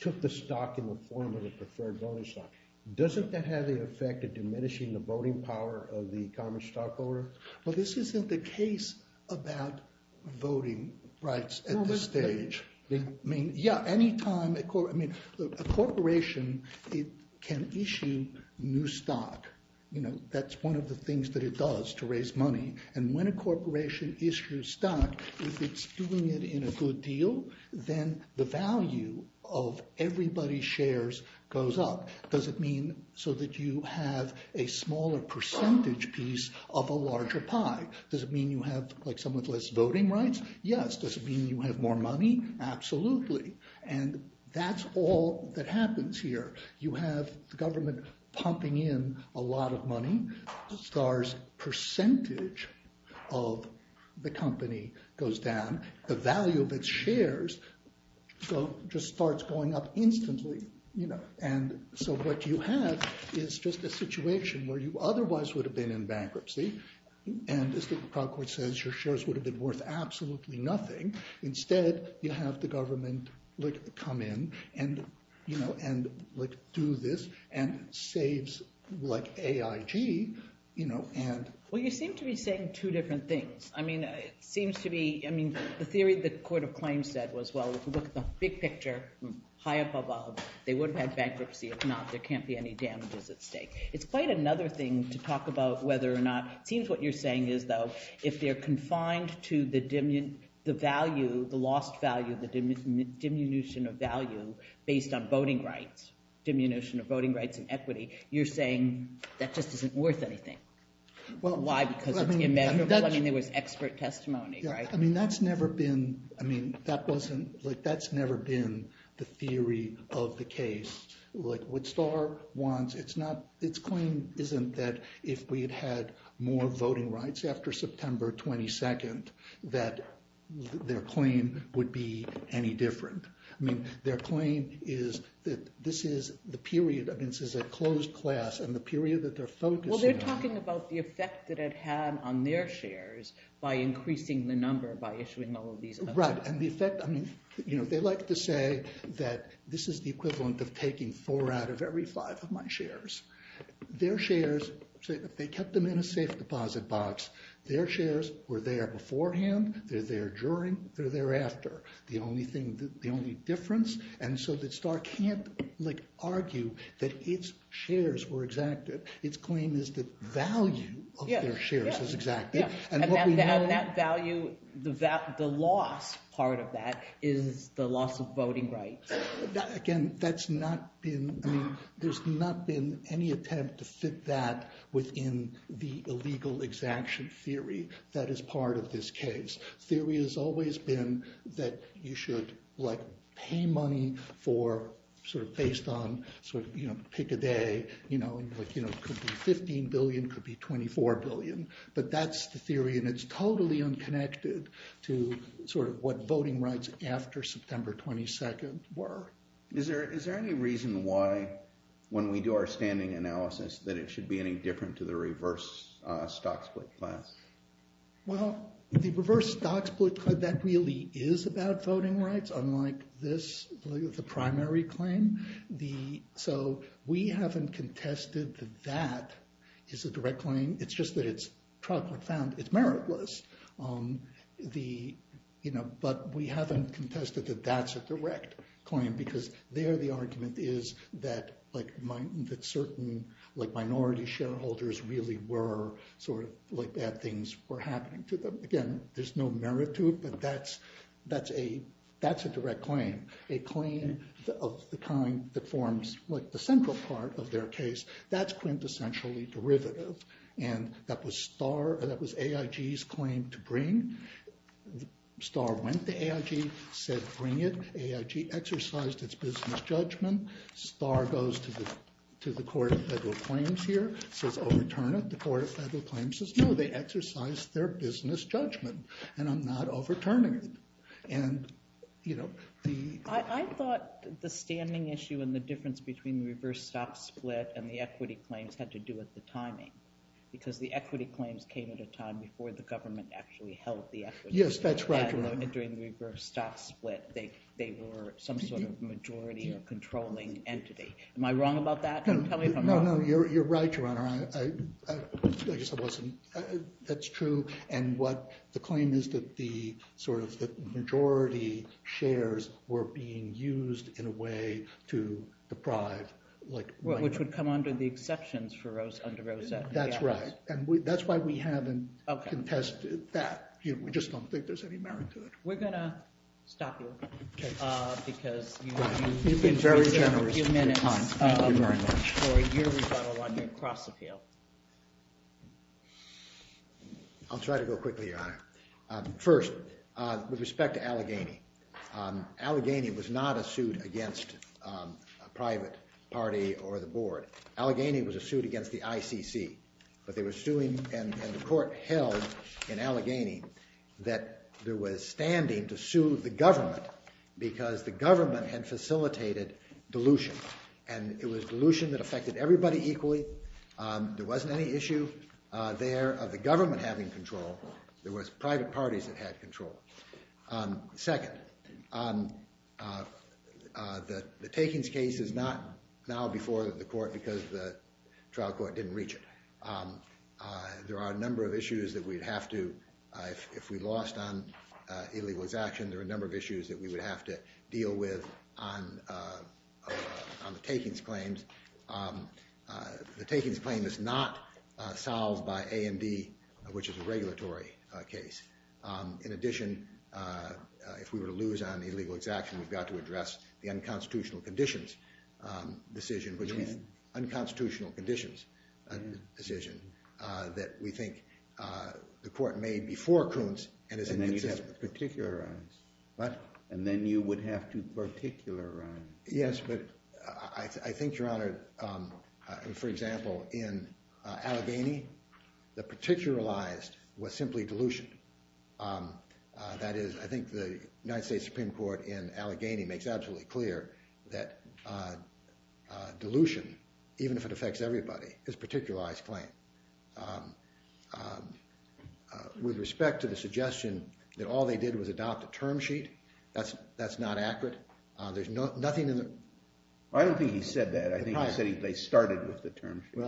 took the stock in the form of a preferred voting stock, doesn't that have the effect of diminishing the voting power of the common stockholder? Well, this isn't the case about voting rights at this stage. I mean, yeah, any time... A corporation can issue new stock. That's one of the things that it does to raise money. And when a corporation issues stock, if it's doing it in a good deal, then the value of everybody's shares goes up. Does it mean so that you have a smaller percentage piece of a larger pie? Does it mean you have somewhat less voting rights? Yes. Does it mean you have more money? Absolutely. And that's all that happens here. You have the government pumping in a lot of money. Starr's percentage of the company goes down. The value of its shares just starts going up instantly. And so what you have is just a situation where you otherwise would have been in bankruptcy. And as the Proud Court says, your shares would have been worth absolutely nothing. Instead, you have the government come in and do this and saves AIG. Well, you seem to be saying two different things. The theory the Court of Claims said was, well, if you look at the big picture, high up above, they would have had bankruptcy. If not, there can't be any damages at stake. It's quite another thing to talk about whether or not... It seems what you're saying is, though, if they're confined to the lost value, the diminution of value based on voting rights, diminution of voting rights and equity, you're saying that just isn't worth anything. Why? Because it's immeasurable? I mean, there was expert testimony, right? That's never been the theory of the case. What Starr wants, its claim isn't that if we had had more voting rights after September 22nd that their claim would be any different. Their claim is that this is the period, I mean, this is a closed class, and the period that they're focusing on... Well, they're talking about the effect that it had on their shares by increasing the number by issuing all of these... Right, and the effect, I mean, they like to say that this is the equivalent of taking four out of every five of my shares. Their shares, if they kept them in a safe deposit box, their shares were there beforehand, they're there during, they're there after. The only difference, and so that Starr can't argue that its shares were exacted. Its claim is the value of their shares is exacted. And that value, the loss part of that is the loss of voting rights. Again, that's not been, I mean, there's not been any attempt to fit that within the illegal exaction theory that is part of this case. Theory has always been that you should pay money for, sort of based on, pick a day, could be 15 billion, could be 24 billion. But that's the theory, and it's totally unconnected to what voting rights after September 22nd were. Is there any reason why, when we do our standing analysis, that it should be any different to the reverse stock split class? Well, the reverse stock split, that really is about voting rights, unlike this, the primary claim. So, we haven't contested that that is a direct claim. It's just that it's profound, it's meritless. But we haven't contested that that's a direct claim, because there the argument is that certain minority shareholders really were, sort of, bad things were happening to them. Again, there's no merit to it, but that's a direct claim. A claim of the kind that forms the central part of their case, that's quintessentially derivative. That was AIG's claim to bring. Starr went to AIG, said, bring it. AIG exercised its business judgment. Starr goes to the Court of Federal Claims here, says, overturn it. The Court of Federal Claims says, no, they exercised their business judgment, and I'm not overturning it. I thought the standing issue and the difference between the reverse stock split and the equity claims had to do with the timing, because the equity claims came at a time before the government actually held the equity. Yes, that's right, Your Honor. And during the reverse stock split they were some sort of majority or controlling entity. Am I wrong about that? Tell me if I'm wrong. No, no, you're right, Your Honor. I guess I wasn't. That's true. And what the claim is that the majority shares were being used in a way to deprive like... Which would come under the exceptions for Rose Underose. That's right. And that's why we haven't contested that. We just don't think there's any merit to it. We're going to stop you. Because you've been very generous with your time. Thank you very much. I'll try to go quickly, Your Honor. First, with respect to Allegheny, Allegheny was not a suit against a private party or the board. Allegheny was a suit against the ICC, but they were suing and the court held in Allegheny that there was standing to sue the government because the government had facilitated dilution. And it was dilution that affected everybody equally. There wasn't any issue there of the government having control. There was private parties that had control. Second, the Takings case is not now before the court because the trial court didn't reach it. There are a number of issues that we'd have to... If we lost on Illegal Exaction, there are a number of issues that we would have to address on the Takings claims. The Takings claim is not solved by AMD, which is a regulatory case. In addition, if we were to lose on Illegal Exaction, we've got to address the Unconstitutional Conditions decision, which is an Unconstitutional Conditions decision that we think the court made before Kuntz. And then you'd have to particularize. Yes, but I think, Your Honor, for example, in Allegheny, the particularized was simply dilution. I think the United States Supreme Court in Allegheny makes absolutely clear that dilution, even if it affects everybody, is a particularized claim. With respect to the suggestion that all they did was adopt a term sheet, that's not accurate. There's nothing in the... I don't think he said that. I think he said they started with the term sheet.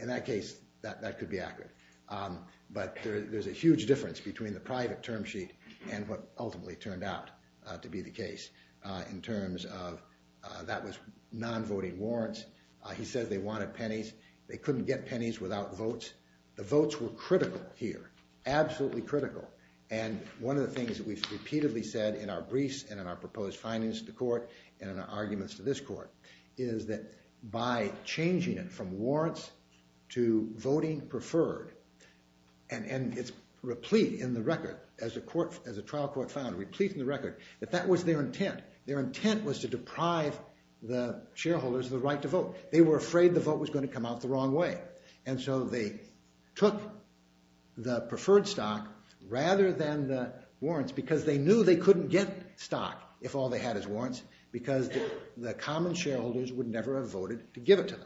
In that case, that could be accurate. But there's a huge difference between the private term sheet and what ultimately turned out to be the case in terms of that was non-voting warrants. He said they wanted pennies. They couldn't get pennies without votes. The votes were critical here. Absolutely critical. And one of the things that we've repeatedly said in our briefs and in our proposed findings to the court and in our arguments to this court is that by changing it from warrants to voting preferred, and it's replete in the record, as a trial court found, replete in the record, that that was their intent. Their intent was to deprive the shareholders of the right to vote. They were afraid the vote was going to come out the wrong way. And so they took the preferred stock rather than the warrants because they knew they couldn't get stock if all they had is warrants because the common shareholders would never have voted to give it to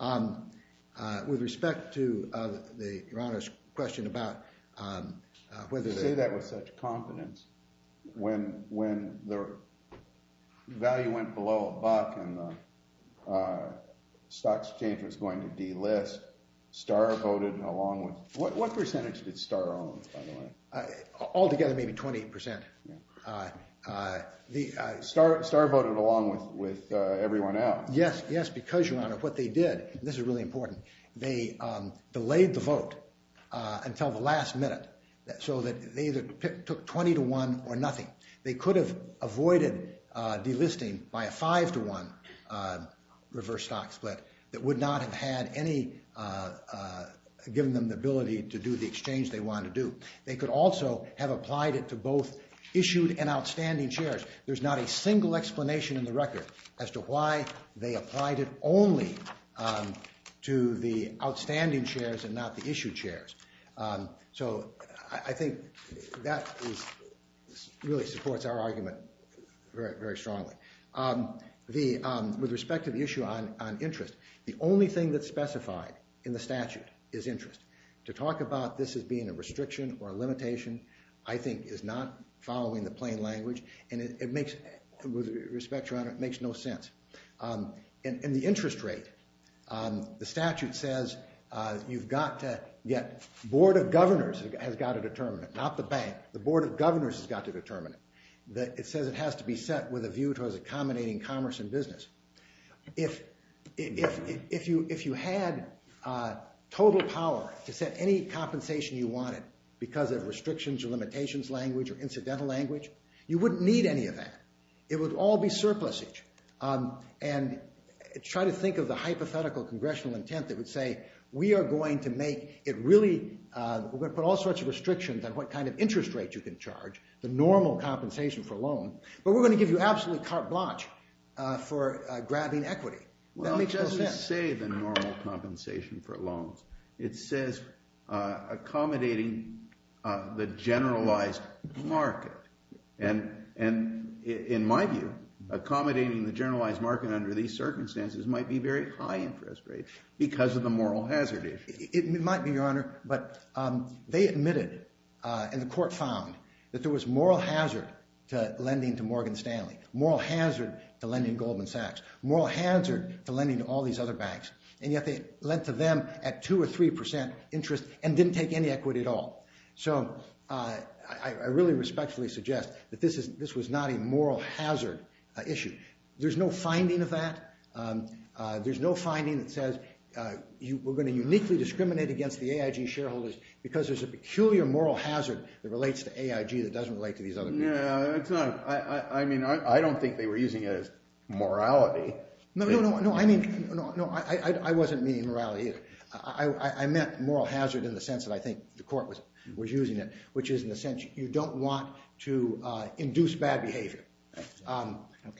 them. With respect to the Your Honor's question about whether they... You say that with such confidence. When the value went below a buck and the stock exchange was going to start voting along with... What percentage did Starr own, by the way? Altogether, maybe 20%. Starr voted along with everyone else. Yes, because, Your Honor, what they did and this is really important, they delayed the vote until the last minute so that they either took 20 to 1 or nothing. They could have avoided delisting by a 5 to 1 reverse stock split that would not have had given them the ability to do the exchange they wanted to do. They could also have applied it to both issued and outstanding shares. There's not a single explanation in the record as to why they applied it only to the outstanding shares and not the issued shares. So I think that really supports our argument very strongly. With respect to the issue on interest, the only thing that's specified in the statute is interest. To talk about this as being a restriction or a limitation, I think, is not following the plain language and it makes... With respect, Your Honor, it makes no sense. In the interest rate, the statute says you've got to get... The Board of Governors has got to determine it, not the bank. The Board of Governors has got to determine it. It says it has to be set with a view towards accommodating commerce and business. If you had total power to set any compensation you wanted because of restrictions or limitations language or incidental language, you wouldn't need any of that. It would all be surplusage. Try to think of the hypothetical congressional intent that would say, we are going to make it really... We're going to put all sorts of restrictions on what kind of interest rate you can charge, the normal compensation for a loan, but we're going to give you absolutely carte blanche for grabbing equity. That makes no sense. Well, it doesn't say the normal compensation for loans. It says accommodating the generalized market. And in my view, accommodating the generalized market under these circumstances might be very high interest rates because of the moral hazard issue. It might be, Your Honor, but they admitted, and the court found, that there was moral hazard to lending to Morgan Stanley, moral hazard to lending to Goldman Sachs, moral hazard to lending to all these other banks, and yet they lent to them at 2 or 3 percent interest and didn't take any equity at all. I really respectfully suggest that this was not a moral hazard issue. There's no finding of that. There's no finding that says we're going to uniquely discriminate against the AIG shareholders because there's a peculiar moral hazard that relates to AIG that doesn't relate to these other people. I don't think they were using it as morality. I wasn't meaning morality. I meant moral hazard in the sense that I think the court was using it, which is in the sense you don't want to induce bad behavior.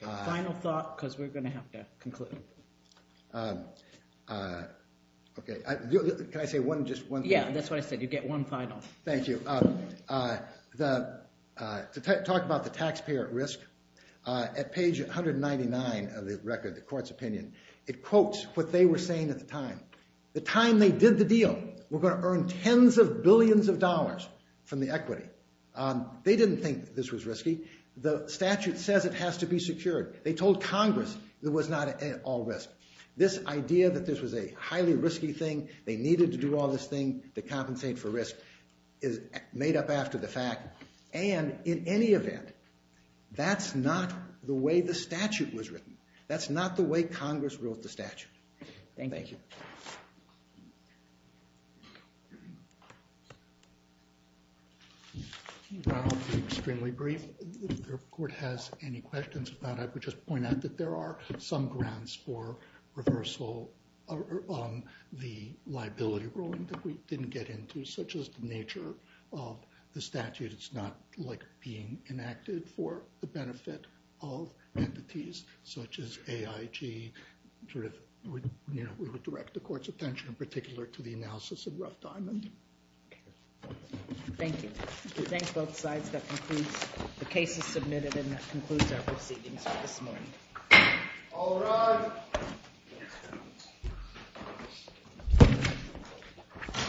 Final thought, because we're going to have to conclude. Can I say just one thing? Yeah, that's what I said. You get one final. Thank you. To talk about the taxpayer at risk, at page 199 of the record, the court's opinion, it quotes what they were saying at the time. The time they did the deal, we're going to earn tens of billions of dollars from the equity. They didn't think this was risky. The statute says it has to be secured. They told Congress it was not at all risk. This idea that this was a highly risky thing, they needed to do all this thing to compensate for risk, is made up after the fact. And in any event, that's not the way the statute was written. That's not the way Congress wrote the statute. Thank you. I'll be extremely brief. If the court has any questions about it, I would just point out that there are some grounds for reversal on the liability ruling that we didn't get into, such as the nature of the statute. It's not being enacted for the benefit of entities such as AIG. We would direct the court's attention in particular to the analysis of Rough Diamond. Thank you. We thank both sides. That concludes the cases submitted and that concludes our proceedings for this morning. All rise.